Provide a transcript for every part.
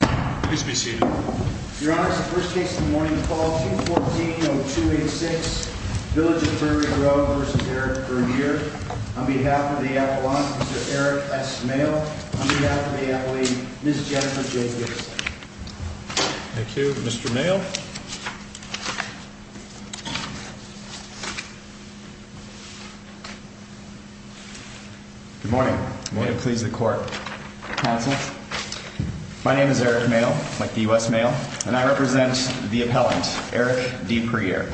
On behalf of the Appalachian, Mr. Eric S. Mayle. On behalf of the Appalachian, Ms. Jennifer J. Gipsley. Thank you. Mr. Mayle. Good morning. May it please the court, counsel. My name is Eric Mayle, like the U.S. Mayle, and I represent the appellant, Eric D. Puryear.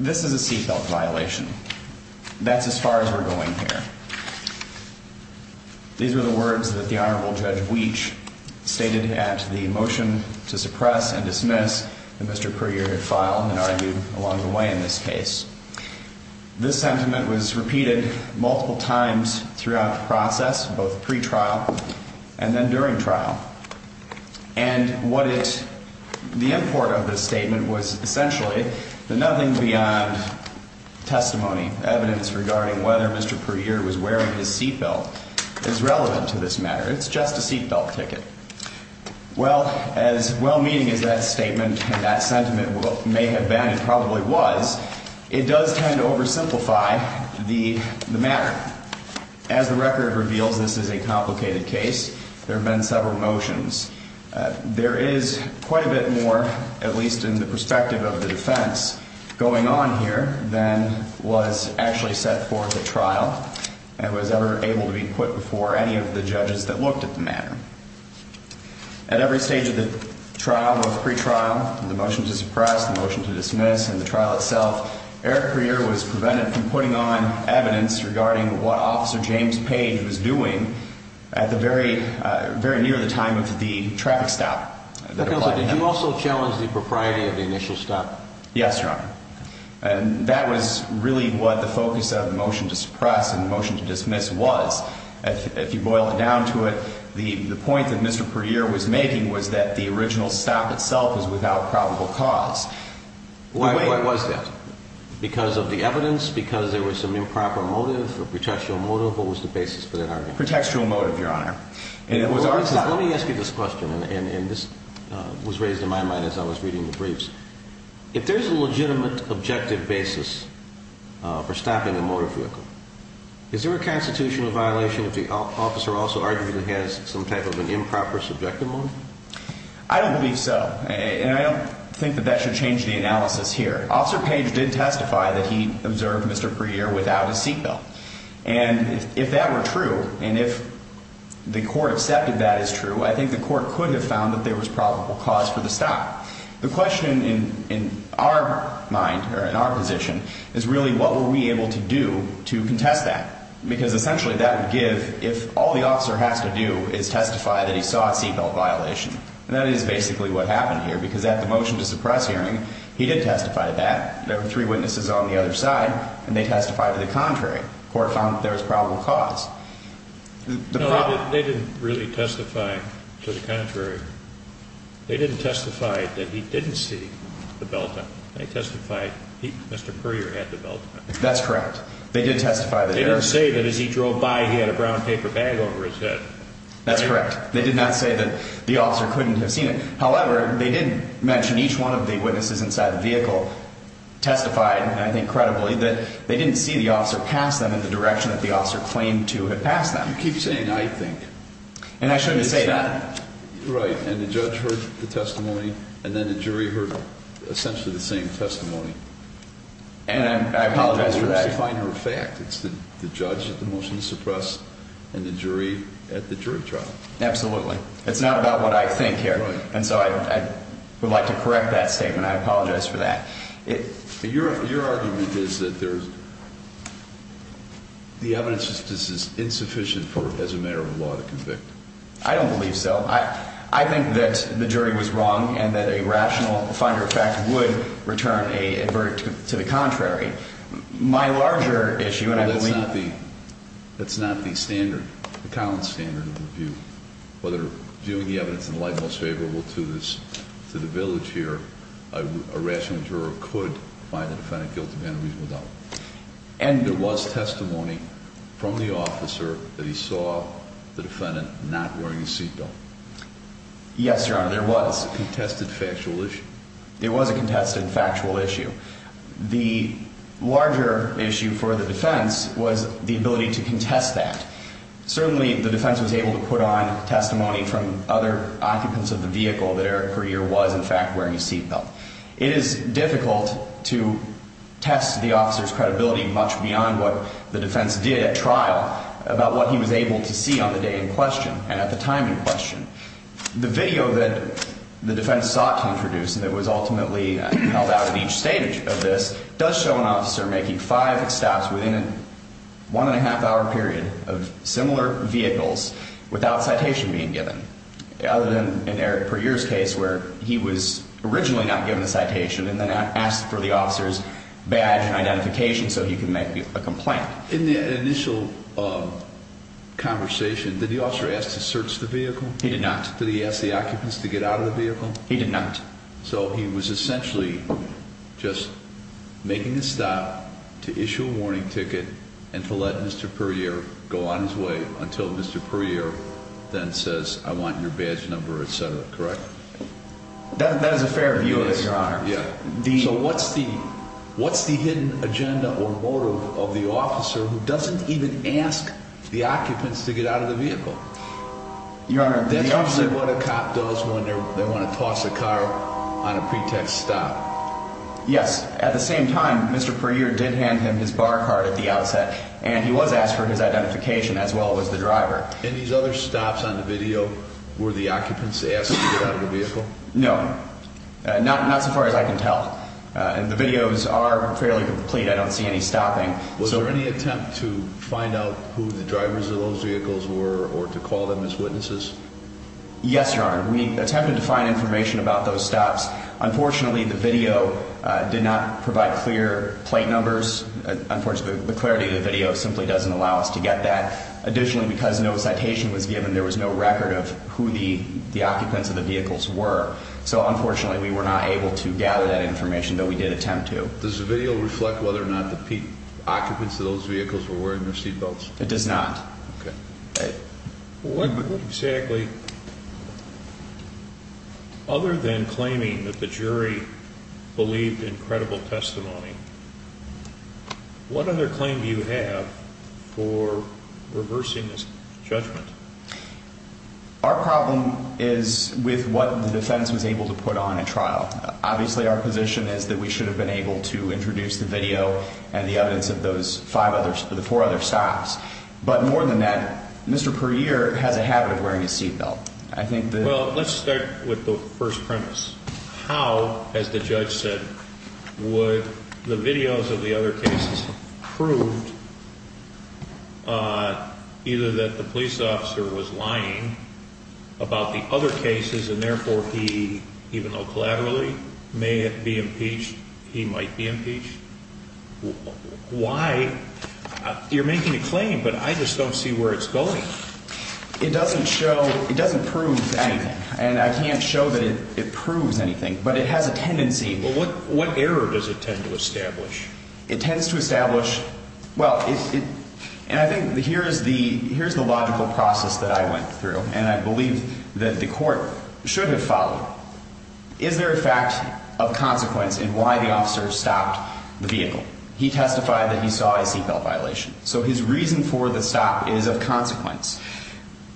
This is a seatbelt violation. That's as far as we're going here. These are the words that the Honorable Judge Weach stated at the motion to suppress and dismiss that Mr. Puryear had filed and argued along the way in this case. This sentiment was repeated multiple times throughout the process, both pre-trial and then during trial. And what it, the import of this statement was essentially that nothing beyond testimony, evidence regarding whether Mr. Puryear was wearing his seatbelt is relevant to this matter. It's just a seatbelt ticket. Well, as well meaning as that statement and that sentiment may have been and probably was, it does tend to oversimplify the matter. As the record reveals, this is a complicated case. There have been several motions. There is quite a bit more, at least in the perspective of the defense, going on here than was actually set forth at trial and was ever able to be put before any of the judges that looked at the matter. At every stage of the trial, both pre-trial, the motion to suppress, the motion to dismiss and the trial itself, Eric Puryear was prevented from putting on evidence regarding what Officer James Page was doing at the very, very near the time of the traffic stop. Did you also challenge the propriety of the initial stop? Yes, Your Honor. And that was really what the focus of the motion to suppress and the motion to dismiss was. If you boil it down to it, the point that Mr. Puryear was making was that the original stop itself was without probable cause. Why, what was that? Because of the evidence? Because there was some improper motive or pretextual motive? What was the basis for that argument? Pretextual motive, Your Honor. Let me ask you this question, and this was raised in my mind as I was reading the briefs. If there's a legitimate objective basis for stopping a motor vehicle, is there a constitutional violation if the officer also arguably has some type of an improper subjective motive? I don't believe so, and I don't think that that should change the analysis here. Officer Page did testify that he observed Mr. Puryear without a seat belt. And if that were true, and if the court accepted that as true, I think the court could have found that there was probable cause for the stop. The question in our mind, or in our position, is really what were we able to do to contest that? Because essentially that would give, if all the officer has to do is testify that he saw a seat belt violation, and that is basically what happened here, because at the motion to suppress hearing, he did testify to that. There were three witnesses on the other side, and they testified to the contrary. The court found that there was probable cause. No, they didn't really testify to the contrary. They didn't testify that he didn't see the belt on. They testified Mr. Puryear had the belt on. That's correct. They did testify that there was. They didn't say that as he drove by, he had a brown paper bag over his head. That's correct. They did not say that the officer couldn't have seen it. However, they did mention each one of the witnesses inside the vehicle testified, and I think credibly, that they didn't see the officer pass them in the direction that the officer claimed to have passed them. You keep saying I think. And I shouldn't say that. Right. And the judge heard the testimony, and then the jury heard essentially the same testimony. And I apologize for that. It's the judge at the motion to suppress and the jury at the jury trial. Absolutely. It's not about what I think here. Right. And so I would like to correct that statement. I apologize for that. Your argument is that the evidence is insufficient as a matter of law to convict. I don't believe so. I think that the jury was wrong and that a rational finder of fact would return a verdict to the contrary. My larger issue, and I believe— Well, that's not the standard, the Collins standard of review. Whether viewing the evidence in the light most favorable to the village here, a rational juror could find the defendant guilty of an unreasonable doubt. And there was testimony from the officer that he saw the defendant not wearing a seat belt. Yes, Your Honor, there was. A contested factual issue. There was a contested factual issue. The larger issue for the defense was the ability to contest that. Certainly, the defense was able to put on testimony from other occupants of the vehicle that Eric Greer was, in fact, wearing a seat belt. It is difficult to test the officer's credibility much beyond what the defense did at trial about what he was able to see on the day in question and at the time in question. The video that the defense sought to introduce that was ultimately held out at each stage of this does show an officer making five stops within a one-and-a-half-hour period of similar vehicles without citation being given, other than in Eric Greer's case where he was originally not given a citation and then asked for the officer's badge and identification so he could make a complaint. In that initial conversation, did the officer ask to search the vehicle? He did not. Did he ask the occupants to get out of the vehicle? He did not. So he was essentially just making a stop to issue a warning ticket and to let Mr. Puryear go on his way until Mr. Puryear then says, I want your badge number, etc., correct? That is a fair view of it, Your Honor. So what's the hidden agenda or motive of the officer who doesn't even ask the occupants to get out of the vehicle? That's usually what a cop does when they want to toss a car on a pretext stop. Yes. At the same time, Mr. Puryear did hand him his bar card at the outset, and he was asked for his identification as well as the driver. And these other stops on the video were the occupants asked to get out of the vehicle? No. Not so far as I can tell. And the videos are fairly complete. I don't see any stopping. Was there any attempt to find out who the drivers of those vehicles were or to call them as witnesses? Yes, Your Honor. We attempted to find information about those stops. Unfortunately, the video did not provide clear plate numbers. Unfortunately, the clarity of the video simply doesn't allow us to get that. Additionally, because no citation was given, there was no record of who the occupants of the vehicles were. So, unfortunately, we were not able to gather that information, though we did attempt to. Does the video reflect whether or not the occupants of those vehicles were wearing their seatbelts? It does not. Okay. What exactly, other than claiming that the jury believed in credible testimony, Our problem is with what the defense was able to put on in trial. Obviously, our position is that we should have been able to introduce the video and the evidence of those four other stops. But more than that, Mr. Puryear has a habit of wearing his seatbelt. Well, let's start with the first premise. How, as the judge said, would the videos of the other cases prove either that the police officer was lying about the other cases and, therefore, he, even though collaterally, may be impeached, he might be impeached? Why? You're making a claim, but I just don't see where it's going. It doesn't show, it doesn't prove anything, and I can't show that it proves anything, but it has a tendency. Well, what error does it tend to establish? It tends to establish, well, and I think here is the logical process that I went through, and I believe that the court should have followed. Is there a fact of consequence in why the officer stopped the vehicle? He testified that he saw a seatbelt violation. So his reason for the stop is of consequence.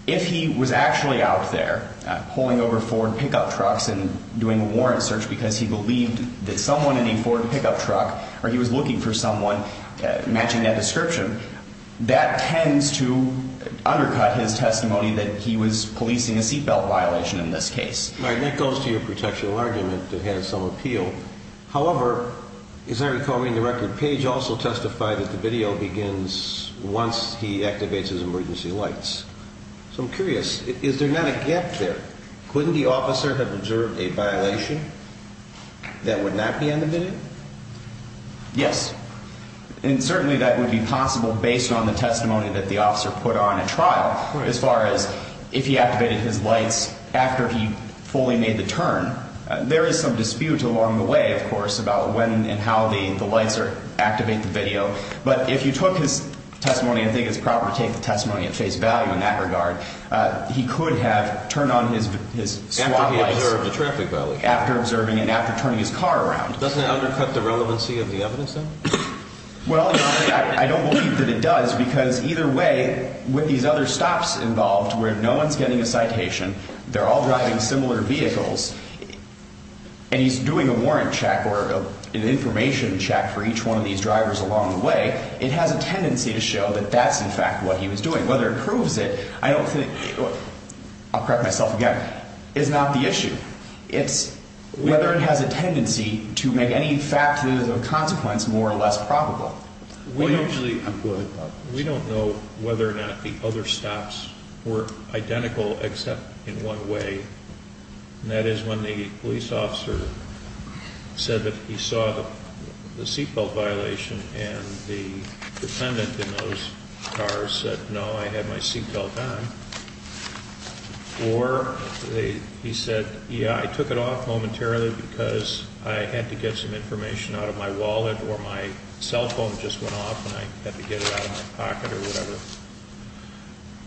If he was actually out there pulling over Ford pickup trucks and doing a warrant search because he believed that someone in a Ford pickup truck, or he was looking for someone matching that description, that tends to undercut his testimony that he was policing a seatbelt violation in this case. Right, and that goes to your protection argument that has some appeal. However, as I recall in the record, Page also testified that the video begins once he activates his emergency lights. So I'm curious, is there not a gap there? Couldn't the officer have observed a violation that would not be on the video? Yes, and certainly that would be possible based on the testimony that the officer put on at trial. As far as if he activated his lights after he fully made the turn, there is some dispute along the way, of course, about when and how the lights activate the video. But if you took his testimony and think it's proper to take the testimony at face value in that regard, he could have turned on his SWAT lights. After he observed a traffic violation. After observing and after turning his car around. Doesn't that undercut the relevancy of the evidence, though? Well, I don't believe that it does, because either way, with these other stops involved where no one's getting a citation, they're all driving similar vehicles, and he's doing a warrant check or an information check for each one of these drivers along the way, it has a tendency to show that that's in fact what he was doing. Whether it proves it, I don't think, I'll correct myself again, is not the issue. It's whether it has a tendency to make any factors of consequence more or less probable. We don't know whether or not the other stops were identical except in one way. And that is when the police officer said that he saw the seatbelt violation and the defendant in those cars said, no, I had my seatbelt on. Or he said, yeah, I took it off momentarily because I had to get some information out of my wallet or my cell phone just went off and I had to get it out of my pocket or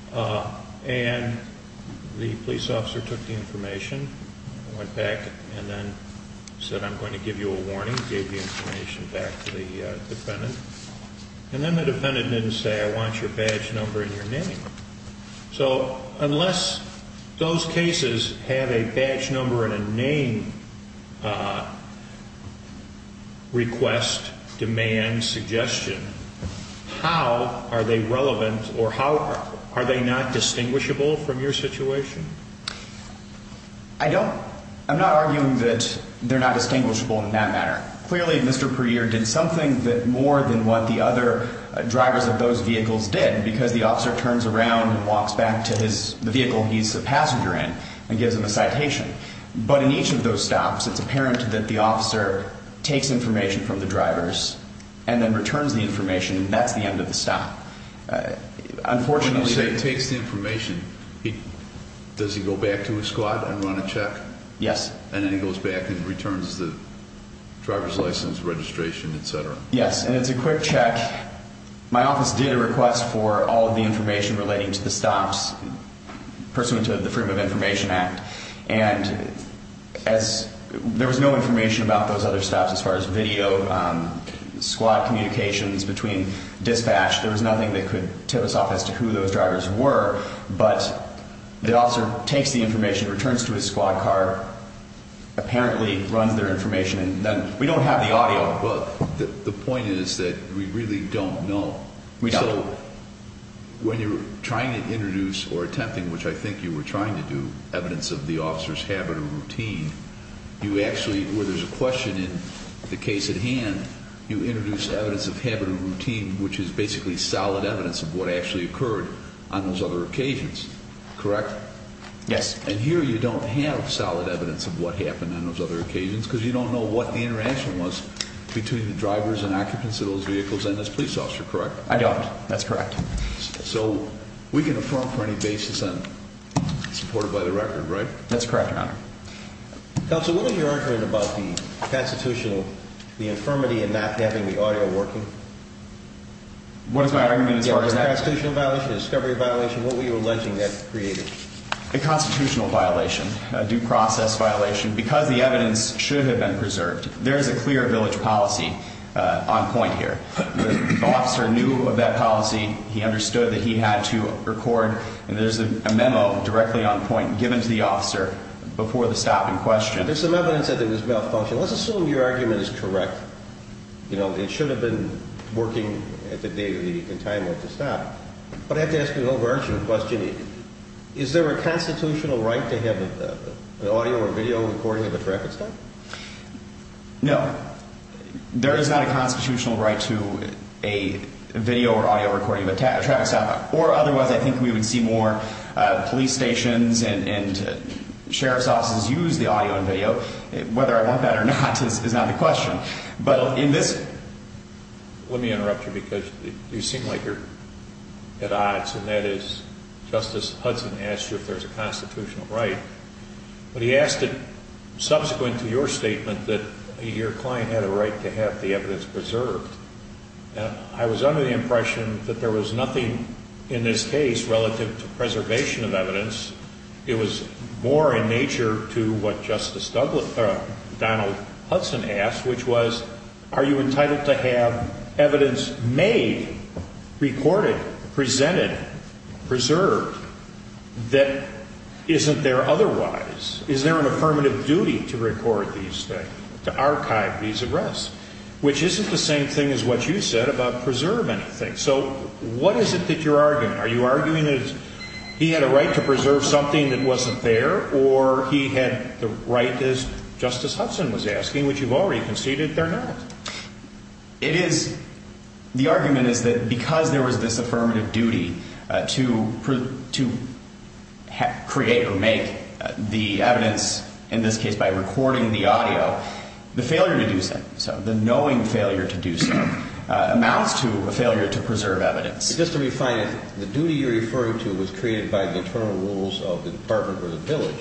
whatever. And the police officer took the information, went back and then said, I'm going to give you a warning, gave the information back to the defendant. And then the defendant didn't say, I want your badge number and your name. So unless those cases have a badge number and a name request, demand, suggestion, how are they relevant or how are they not distinguishable from your situation? I don't, I'm not arguing that they're not distinguishable in that matter. Clearly, Mr. Perrier did something that more than what the other drivers of those vehicles did because the officer turns around and walks back to his, the vehicle he's a passenger in and gives him a citation. But in each of those stops, it's apparent that the officer takes information from the drivers and then returns the information. And that's the end of the stop. Unfortunately, it takes the information. Does he go back to his squad and run a check? Yes. And then he goes back and returns the driver's license, registration, et cetera? Yes. And it's a quick check. My office did a request for all of the information relating to the stops pursuant to the Freedom of Information Act. And as, there was no information about those other stops as far as video, squad communications between dispatch. There was nothing that could tip us off as to who those drivers were. But the officer takes the information, returns to his squad car, apparently runs their information, and then we don't have the audio. Well, the point is that we really don't know. We don't. So when you're trying to introduce or attempting, which I think you were trying to do, evidence of the officer's habit or routine, you actually, where there's a question in the case at hand, you introduce evidence of habit or routine, which is basically solid evidence of what actually occurred on those other occasions, correct? Yes. And here you don't have solid evidence of what happened on those other occasions because you don't know what the interaction was between the drivers and occupants of those vehicles and this police officer, correct? I don't. That's correct. So we can affirm for any basis and support it by the record, right? That's correct, Your Honor. Counsel, what was your argument about the constitutional, the infirmity in not having the audio working? What is my argument as far as that? Yeah, was it a constitutional violation, a discovery violation? What were you alleging that created? A constitutional violation, a due process violation because the evidence should have been preserved. There is a clear village policy on point here. The officer knew of that policy. He understood that he had to record, and there's a memo directly on point given to the officer before the stop in question. There's some evidence that it was malfunctioning. Let's assume your argument is correct. You know, it should have been working at the date and time of the stop. But I have to ask an overarching question. Is there a constitutional right to have an audio or video recording of a traffic stop? No. There is not a constitutional right to a video or audio recording of a traffic stop, or otherwise I think we would see more police stations and sheriff's offices use the audio and video. Whether I want that or not is not the question. But in this – Let me interrupt you because you seem like you're at odds, and that is Justice Hudson asked you if there's a constitutional right. But he asked it subsequent to your statement that your client had a right to have the evidence preserved. I was under the impression that there was nothing in this case relative to preservation of evidence. It was more in nature to what Justice Donald Hudson asked, which was are you entitled to have evidence made, recorded, presented, preserved that isn't there otherwise? Is there an affirmative duty to record these things, to archive these arrests? Which isn't the same thing as what you said about preserving things. So what is it that you're arguing? Are you arguing that he had a right to preserve something that wasn't there, or he had the right, as Justice Hudson was asking, which you've already conceded they're not? It is – the argument is that because there was this affirmative duty to create or make the evidence, in this case by recording the audio, the failure to do so, the knowing failure to do so, amounts to a failure to preserve evidence. Just to refine it, the duty you're referring to was created by the internal rules of the department or the village.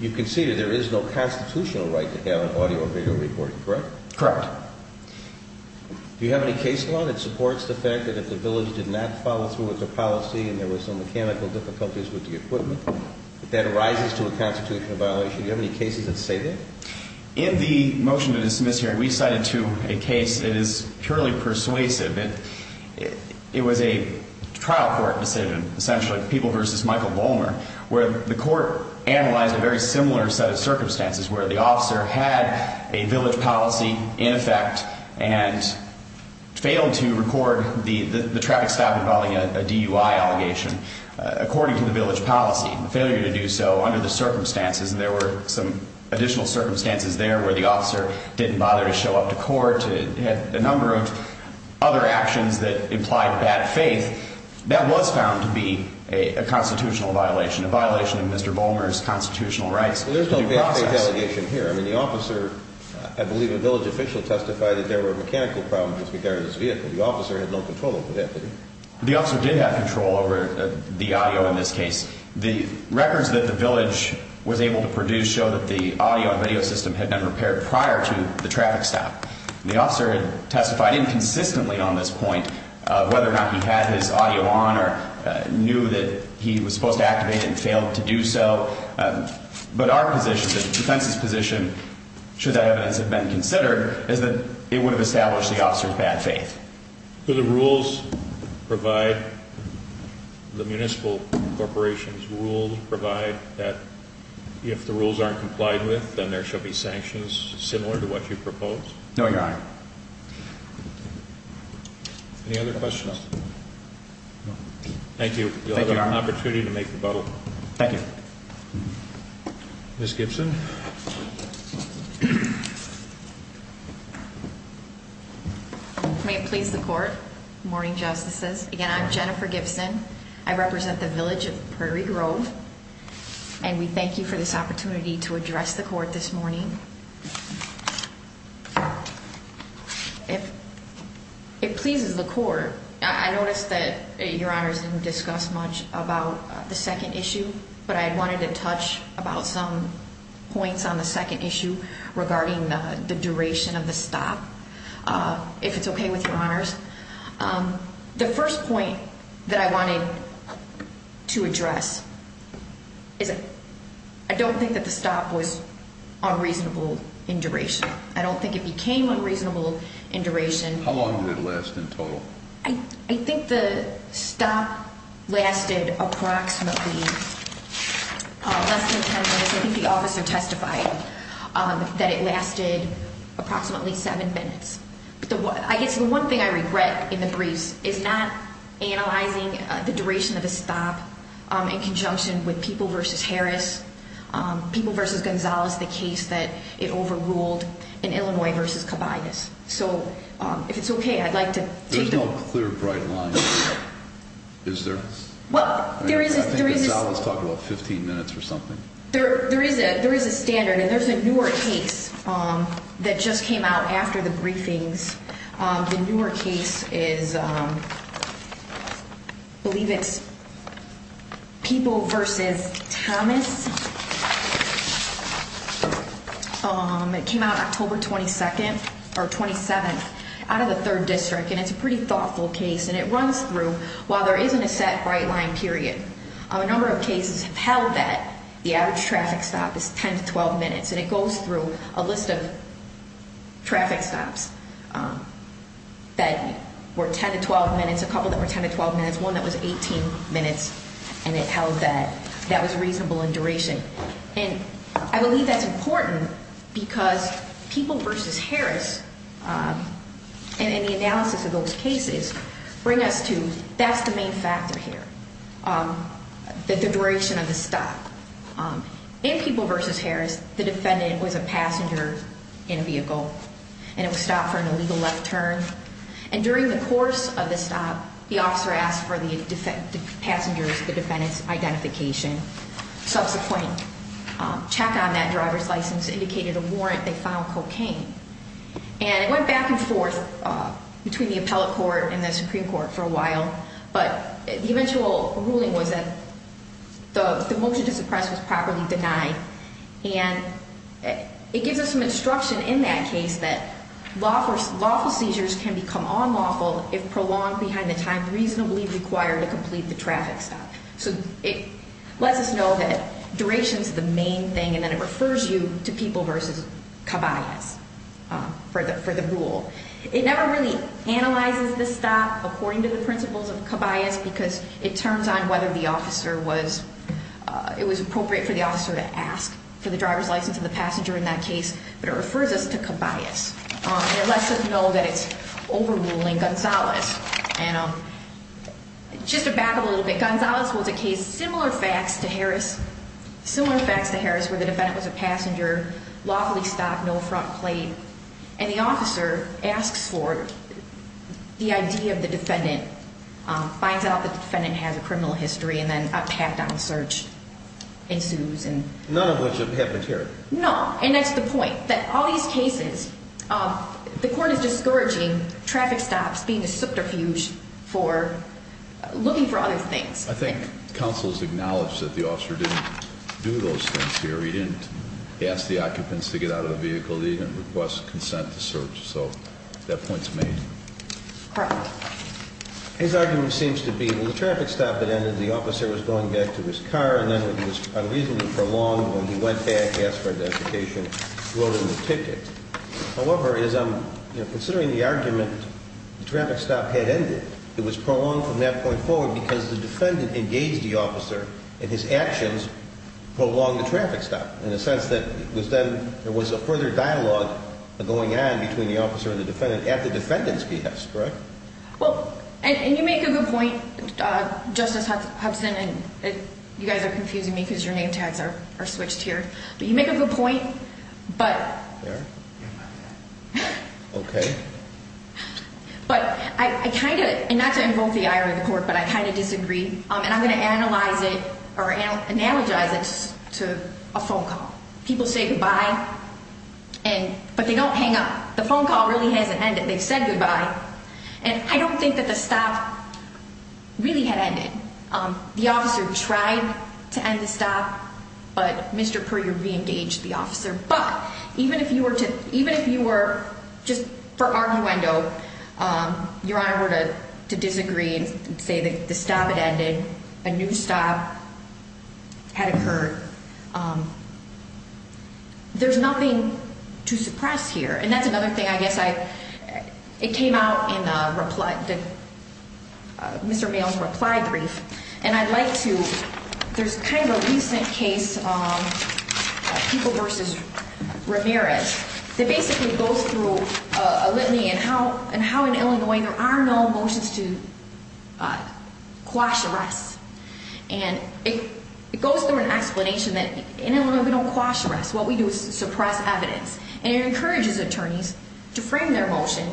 You've conceded there is no constitutional right to have an audio or video recording, correct? Correct. Do you have any case law that supports the fact that if the village did not follow through with the policy and there were some mechanical difficulties with the equipment, that that arises to a constitutional violation? Do you have any cases that say that? In the motion to dismiss hearing, we cited to a case that is purely persuasive. It was a trial court decision, essentially, People v. Michael Bolmer, where the court analyzed a very similar set of circumstances where the officer had a village policy in effect and failed to record the traffic stop involving a DUI allegation, according to the village policy. The failure to do so under the circumstances, and there were some additional circumstances there where the officer didn't bother to show up to court, had a number of other actions that implied bad faith, that was found to be a constitutional violation, a violation of Mr. Bolmer's constitutional rights. Well, there's no bad faith allegation here. I mean, the officer, I believe a village official testified that there were mechanical problems with this vehicle. The officer had no control over that, did he? The officer did have control over the audio in this case. The records that the village was able to produce show that the audio and video system had been repaired prior to the traffic stop. The officer testified inconsistently on this point, whether or not he had his audio on or knew that he was supposed to activate it and failed to do so. But our position, the defense's position, should that evidence have been considered, is that it would have established the officer's bad faith. Do the rules provide, the municipal corporation's rules provide that if the rules aren't complied with, then there shall be sanctions similar to what you propose? No, Your Honor. Any other questions? Thank you. Thank you, Your Honor. You'll have an opportunity to make rebuttal. Thank you. Ms. Gibson? May it please the Court, morning justices. Again, I'm Jennifer Gibson. I represent the village of Prairie Grove, and we thank you for this opportunity to address the Court this morning. It pleases the Court. I noticed that Your Honors didn't discuss much about the second issue, but I wanted to touch about some points on the second issue regarding the duration of the stop, if it's okay with Your Honors. The first point that I wanted to address is I don't think that the stop was unreasonable in duration. I don't think it became unreasonable in duration. I think the stop lasted approximately less than ten minutes. I think the officer testified that it lasted approximately seven minutes. I guess the one thing I regret in the briefs is not analyzing the duration of the stop in conjunction with People v. Harris. People v. Gonzales, the case that it overruled in Illinois v. Cabayas. If it's okay, I'd like to take that. There's no clear, bright line, is there? Well, there is. Gonzales talked about 15 minutes or something. There is a standard, and there's a newer case that just came out after the briefings. The newer case is, I believe it's People v. Thomas. It came out October 22nd, or 27th, out of the 3rd District, and it's a pretty thoughtful case. And it runs through, while there isn't a set bright line period, a number of cases have held that the average traffic stop is 10 to 12 minutes. And it goes through a list of traffic stops that were 10 to 12 minutes, a couple that were 10 to 12 minutes, one that was 18 minutes. And it held that that was reasonable in duration. And I believe that's important because People v. Harris, in the analysis of those cases, bring us to that's the main factor here, the duration of the stop. In People v. Harris, the defendant was a passenger in a vehicle, and it was stopped for an illegal left turn. And during the course of the stop, the officer asked for the passenger's, the defendant's, identification. Subsequent check on that driver's license indicated a warrant. They found cocaine. And it went back and forth between the appellate court and the Supreme Court for a while. But the eventual ruling was that the motion to suppress was properly denied. And it gives us some instruction in that case that lawful seizures can become unlawful if prolonged behind the time reasonably required to complete the traffic stop. So it lets us know that duration is the main thing, and then it refers you to People v. Caballas for the rule. It never really analyzes the stop according to the principles of Caballas because it turns on whether the officer was, it was appropriate for the officer to ask for the driver's license of the passenger in that case. But it refers us to Caballas. And it lets us know that it's overruling Gonzalez. And just to back up a little bit, Gonzalez was a case similar facts to Harris, similar facts to Harris, where the defendant was a passenger, lawfully stopped, no front plate. And the officer asks for the ID of the defendant, finds out that the defendant has a criminal history, and then a pat-down search ensues. None of which have happened here. No. And that's the point, that all these cases, the court is discouraging traffic stops being a subterfuge for looking for other things. I think counsel's acknowledged that the officer didn't do those things here. He didn't ask the occupants to get out of the vehicle. He didn't request consent to search. So that point's made. His argument seems to be, well, the traffic stop had ended, the officer was going back to his car, and then it was unreasonably prolonged when he went back, asked for identification, wrote him a ticket. However, considering the argument, the traffic stop had ended. It was prolonged from that point forward because the defendant engaged the officer, and his actions prolonged the traffic stop. In the sense that it was then, there was a further dialogue going on between the officer and the defendant at the defendant's behest, correct? Well, and you make a good point, Justice Hobson, and you guys are confusing me because your name tags are switched here. But you make a good point, but... Fair. Okay. But I kind of, and not to invoke the ire of the court, but I kind of disagree. And I'm going to analyze it or analogize it to a phone call. People say goodbye, but they don't hang up. The phone call really hasn't ended. They've said goodbye, and I don't think that the stop really had ended. The officer tried to end the stop, but Mr. Puryear reengaged the officer. But even if you were to, even if you were just for arguendo, Your Honor, were to disagree and say that the stop had ended, a new stop had occurred, there's nothing to suppress here. And that's another thing I guess I, it came out in Mr. Mayo's reply brief. And I'd like to, there's kind of a recent case, People v. Ramirez, that basically goes through a litany in how in Illinois there are no motions to quash arrests. And it goes through an explanation that in Illinois we don't quash arrests. What we do is suppress evidence. And it encourages attorneys to frame their motion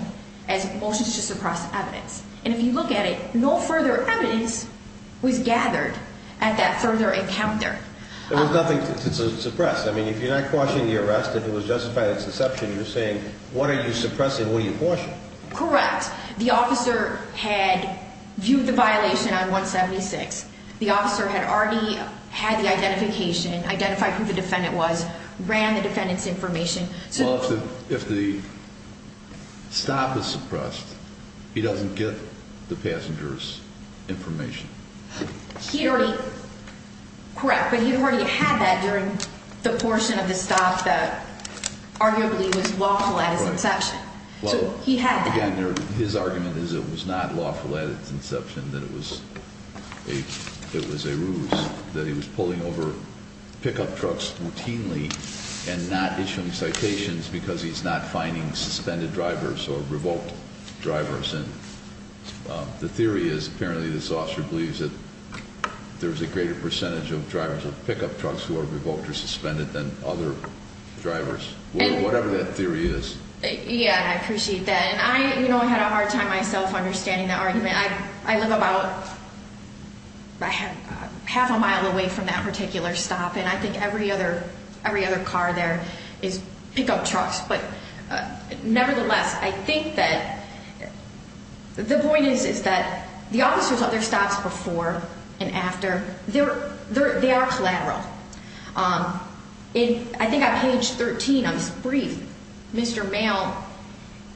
as motions to suppress evidence. And if you look at it, no further evidence was gathered at that further encounter. There was nothing to suppress. I mean, if you're not quashing the arrest, if it was justified as deception, you're saying what are you suppressing, what are you quashing? Correct. The officer had viewed the violation on 176. The officer had already had the identification, identified who the defendant was, ran the defendant's information. Well, if the stop is suppressed, he doesn't get the passenger's information. He already, correct, but he already had that during the portion of the stop that arguably was lawful at its inception. Right. So he had that. Again, his argument is it was not lawful at its inception, that it was a ruse, that he was pulling over pickup trucks routinely and not issuing citations because he's not finding suspended drivers or revoked drivers. And the theory is apparently this officer believes that there's a greater percentage of drivers of pickup trucks who are revoked or suspended than other drivers, whatever that theory is. Yeah, I appreciate that. And I, you know, I had a hard time myself understanding the argument. I live about half a mile away from that particular stop, and I think every other car there is pickup trucks. But nevertheless, I think that the point is, is that the officer's other stops before and after, they are collateral. I think on page 13 of his brief, Mr. Mayo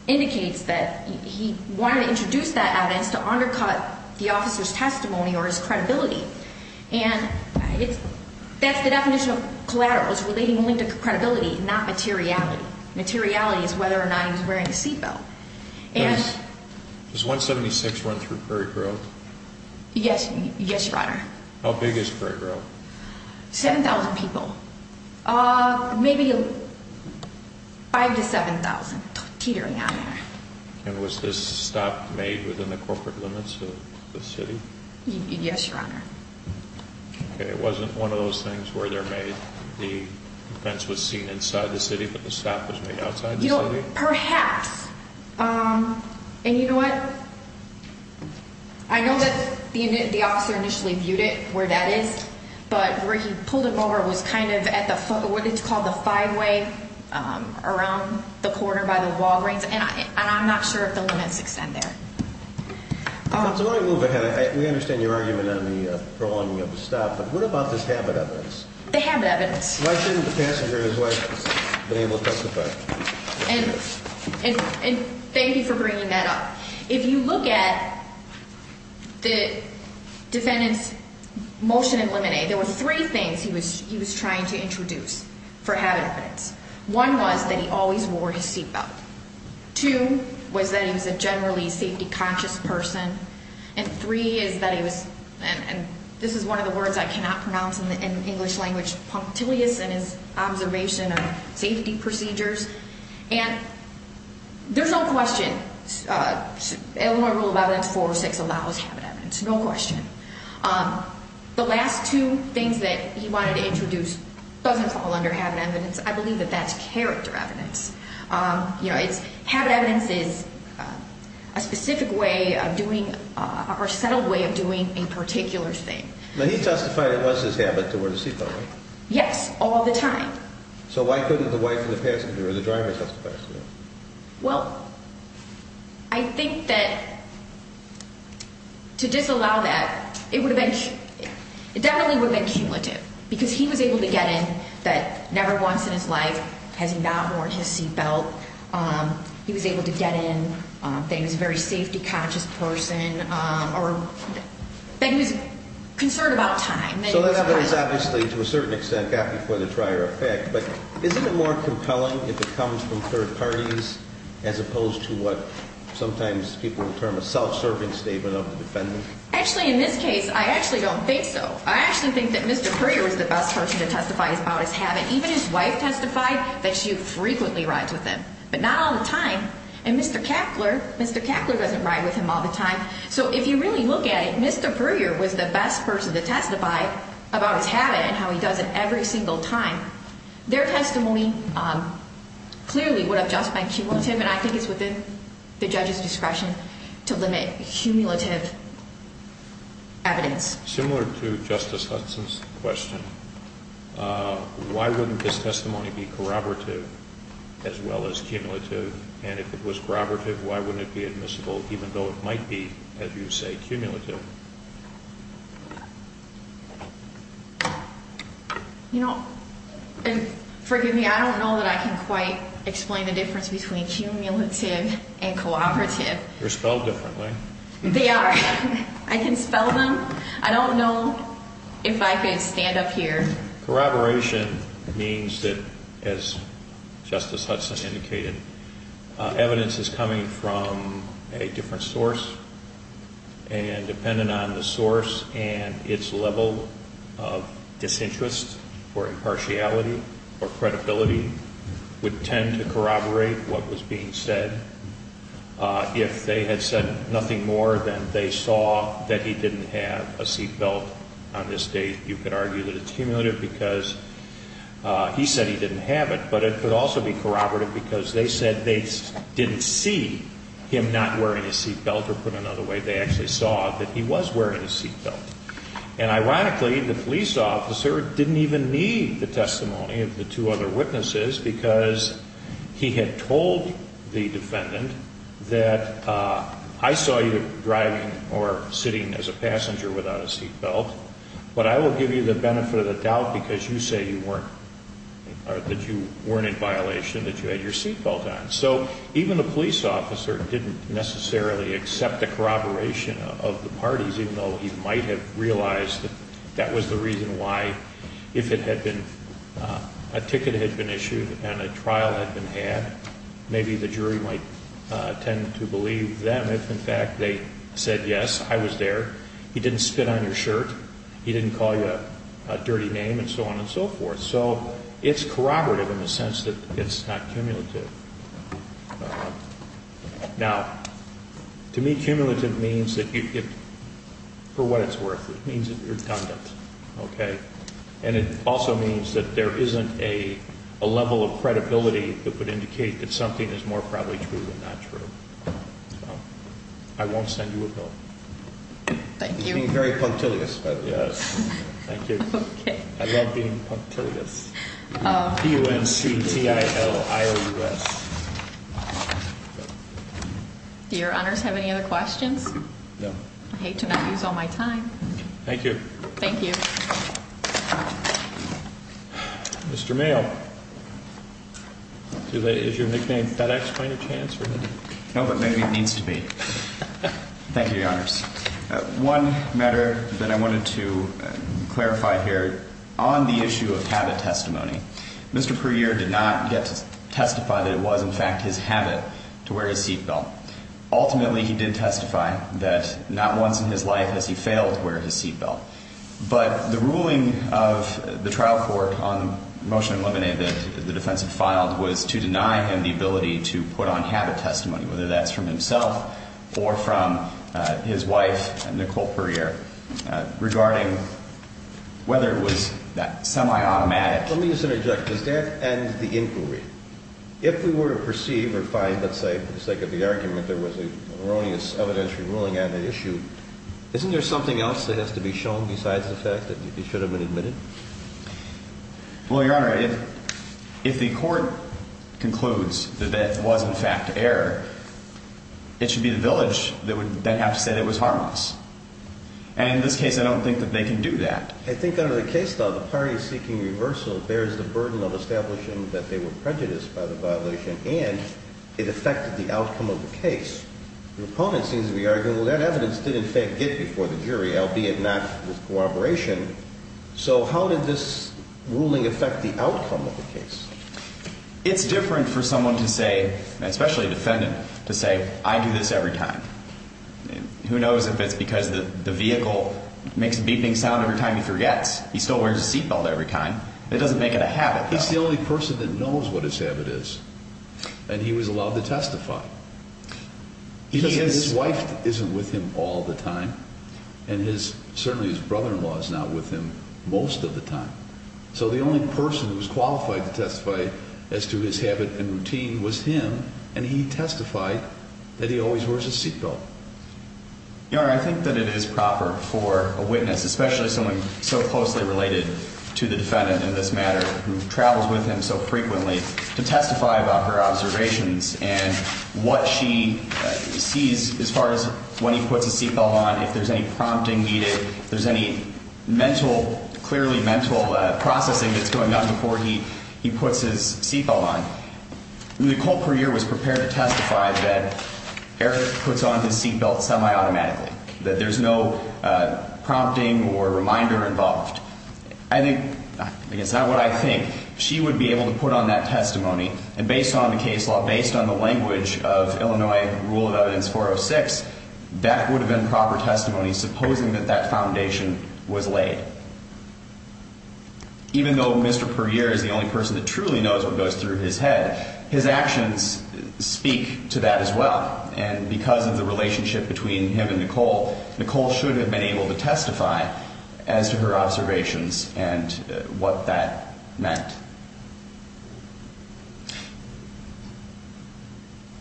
indicates that he wanted to introduce that evidence to undercut the officer's testimony or his credibility. And that's the definition of collateral is relating only to credibility, not materiality. Materiality is whether or not he was wearing a seat belt. Does 176 run through Prairie Grove? Yes, Your Honor. How big is Prairie Grove? 7,000 people. Maybe 5,000 to 7,000 teetering on there. And was this stop made within the corporate limits of the city? Yes, Your Honor. Okay, it wasn't one of those things where they're made, the fence was seen inside the city, but the stop was made outside the city? Perhaps. And you know what? I know that the officer initially viewed it where that is, but where he pulled him over was kind of at the foot, what is called the five-way around the corner by the Walgreens. And I'm not sure if the limits extend there. So let me move ahead. We understand your argument on the prolonging of the stop, but what about this habit evidence? The habit evidence. Why shouldn't the passenger and his wife have been able to testify? And thank you for bringing that up. If you look at the defendant's motion in limine, there were three things he was trying to introduce for habit evidence. One was that he always wore his seat belt. Two was that he was a generally safety-conscious person. And three is that he was, and this is one of the words I cannot pronounce in the English language, punctilious in his observation of safety procedures. And there's no question Illinois Rule of Evidence 406 allows habit evidence, no question. The last two things that he wanted to introduce doesn't fall under habit evidence. I believe that that's character evidence. Habit evidence is a specific way of doing or a settled way of doing a particular thing. Now, he testified it was his habit to wear the seat belt, right? Yes, all the time. So why couldn't the wife and the passenger or the driver testify to that? Well, I think that to disallow that, it definitely would have been cumulative. Because he was able to get in that never once in his life has he not worn his seat belt. He was able to get in that he was a very safety-conscious person or that he was concerned about time. So that is obviously, to a certain extent, happy for the trier effect. But isn't it more compelling if it comes from third parties as opposed to what sometimes people term a self-serving statement of the defendant? Actually, in this case, I actually don't think so. I actually think that Mr. Prewier was the best person to testify about his habit. Even his wife testified that she frequently rides with him, but not all the time. And Mr. Keckler, Mr. Keckler doesn't ride with him all the time. So if you really look at it, Mr. Prewier was the best person to testify about his habit and how he does it every single time. Their testimony clearly would have justified cumulative, and I think it's within the judge's discretion to limit cumulative evidence. Similar to Justice Hudson's question, why wouldn't this testimony be corroborative as well as cumulative? And if it was corroborative, why wouldn't it be admissible even though it might be, as you say, cumulative? You know, and forgive me, I don't know that I can quite explain the difference between cumulative and corroborative. They're spelled differently. They are. I can spell them. I don't know if I can stand up here. Corroboration means that, as Justice Hudson indicated, evidence is coming from a different source, and dependent on the source and its level of disinterest or impartiality or credibility would tend to corroborate what was being said. If they had said nothing more than they saw that he didn't have a seat belt on this date, you could argue that it's cumulative because he said he didn't have it. But it could also be corroborative because they said they didn't see him not wearing a seat belt, or put another way, they actually saw that he was wearing a seat belt. And ironically, the police officer didn't even need the testimony of the two other witnesses because he had told the defendant that I saw you driving or sitting as a passenger without a seat belt, but I will give you the benefit of the doubt because you say you weren't, or that you weren't in violation, that you had your seat belt on. So even the police officer didn't necessarily accept the corroboration of the parties, even though he might have realized that that was the reason why, if a ticket had been issued and a trial had been had, maybe the jury might tend to believe them if, in fact, they said, yes, I was there, he didn't spit on your shirt, he didn't call you a dirty name, and so on and so forth. So it's corroborative in the sense that it's not cumulative. Now, to me, cumulative means that for what it's worth, it means it's redundant, okay? And it also means that there isn't a level of credibility that would indicate that something is more probably true than not true. So I won't send you a bill. Thank you. You're being very punctilious, by the way. Yes. Thank you. Okay. I love being punctilious. P-U-N-C-T-I-L-I-O-U-S. Do your honors have any other questions? No. I hate to not use all my time. Thank you. Thank you. Mr. Mayo, is your nickname FedEx by any chance? No, but maybe it needs to be. Thank you, your honors. One matter that I wanted to clarify here, on the issue of habit testimony, Mr. Puryear did not get to testify that it was, in fact, his habit to wear his seatbelt. Ultimately, he did testify that not once in his life has he failed to wear his seatbelt. But the ruling of the trial court on the motion eliminated that the defense had filed was to deny him the ability to put on habit testimony, whether that's from himself or from his wife, Nicole Puryear, regarding whether it was that semi-automatic. Let me just interject. Does that end the inquiry? If we were to perceive or find, let's say, for the sake of the argument, there was an erroneous evidentiary ruling on the issue, isn't there something else that has to be shown besides the fact that it should have been admitted? Well, your honor, if the court concludes that that was, in fact, error, it should be the village that would then have to say that it was harmless. And in this case, I don't think that they can do that. I think under the case law, the party seeking reversal bears the burden of establishing that they were prejudiced by the violation and it affected the outcome of the case. The opponent seems to be arguing, well, that evidence did, in fact, get before the jury, albeit not with cooperation. So how did this ruling affect the outcome of the case? It's different for someone to say, especially a defendant, to say, I do this every time. Who knows if it's because the vehicle makes a beeping sound every time he forgets. He still wears a seatbelt every time. It doesn't make it a habit. He's the only person that knows what his habit is. And he was allowed to testify. His wife isn't with him all the time. And certainly his brother-in-law is not with him most of the time. So the only person who was qualified to testify as to his habit and routine was him. And he testified that he always wears a seatbelt. Your honor, I think that it is proper for a witness, especially someone so closely related to the defendant in this matter, who travels with him so frequently, to testify about her observations and what she sees as far as when he puts his seatbelt on, if there's any prompting needed, if there's any mental, clearly mental processing that's going on before he puts his seatbelt on. Nicole Puryear was prepared to testify that Eric puts on his seatbelt semi-automatically, that there's no prompting or reminder involved. I think, it's not what I think, she would be able to put on that testimony. And based on the case law, based on the language of Illinois Rule of Evidence 406, that would have been proper testimony, supposing that that foundation was laid. Even though Mr. Puryear is the only person that truly knows what goes through his head, his actions speak to that as well. Nicole should have been able to testify as to her observations and what that meant.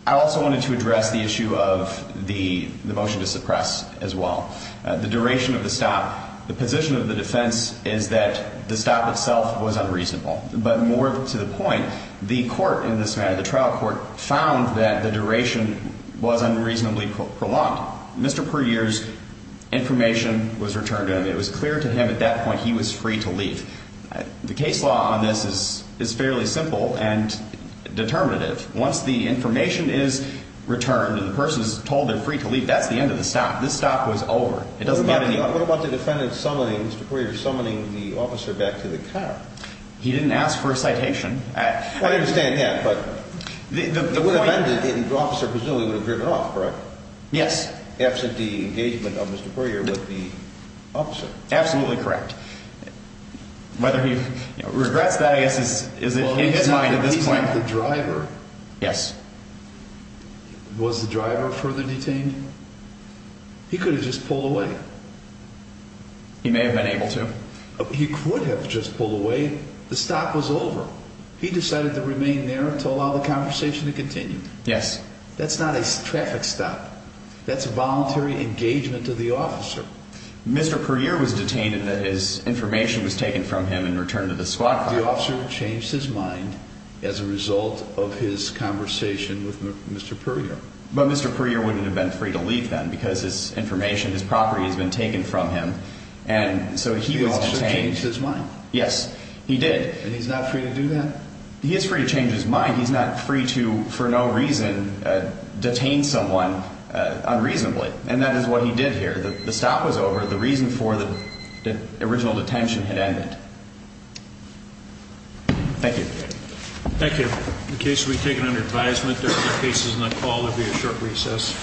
I also wanted to address the issue of the motion to suppress as well. The duration of the stop, the position of the defense is that the stop itself was unreasonable. But more to the point, the court in this matter, the trial court, found that the duration was unreasonably prolonged. Mr. Puryear's information was returned to him. It was clear to him at that point he was free to leave. The case law on this is fairly simple and determinative. Once the information is returned and the person is told they're free to leave, that's the end of the stop. This stop was over. It doesn't get any... What about the defendant summoning Mr. Puryear, summoning the officer back to the car? He didn't ask for a citation. I understand that, but the officer presumably would have driven off, correct? Yes. Absent the engagement of Mr. Puryear with the officer. Absolutely correct. Whether he regrets that, I guess, is in his mind at this point. Well, he's not the driver. Yes. Was the driver further detained? He could have just pulled away. He may have been able to. He could have just pulled away. The stop was over. He decided to remain there to allow the conversation to continue. Yes. That's not a traffic stop. That's voluntary engagement of the officer. Mr. Puryear was detained in that his information was taken from him and returned to the squad car. The officer changed his mind as a result of his conversation with Mr. Puryear. But Mr. Puryear wouldn't have been free to leave then because his information, his property, has been taken from him. And so he was detained. The officer changed his mind. Yes, he did. And he's not free to do that? He is free to change his mind. He's not free to, for no reason, detain someone unreasonably. And that is what he did here. The stop was over. The reason for the original detention had ended. Thank you. Thank you. The case will be taken under advisement. There are other cases on the call. There will be a short recess.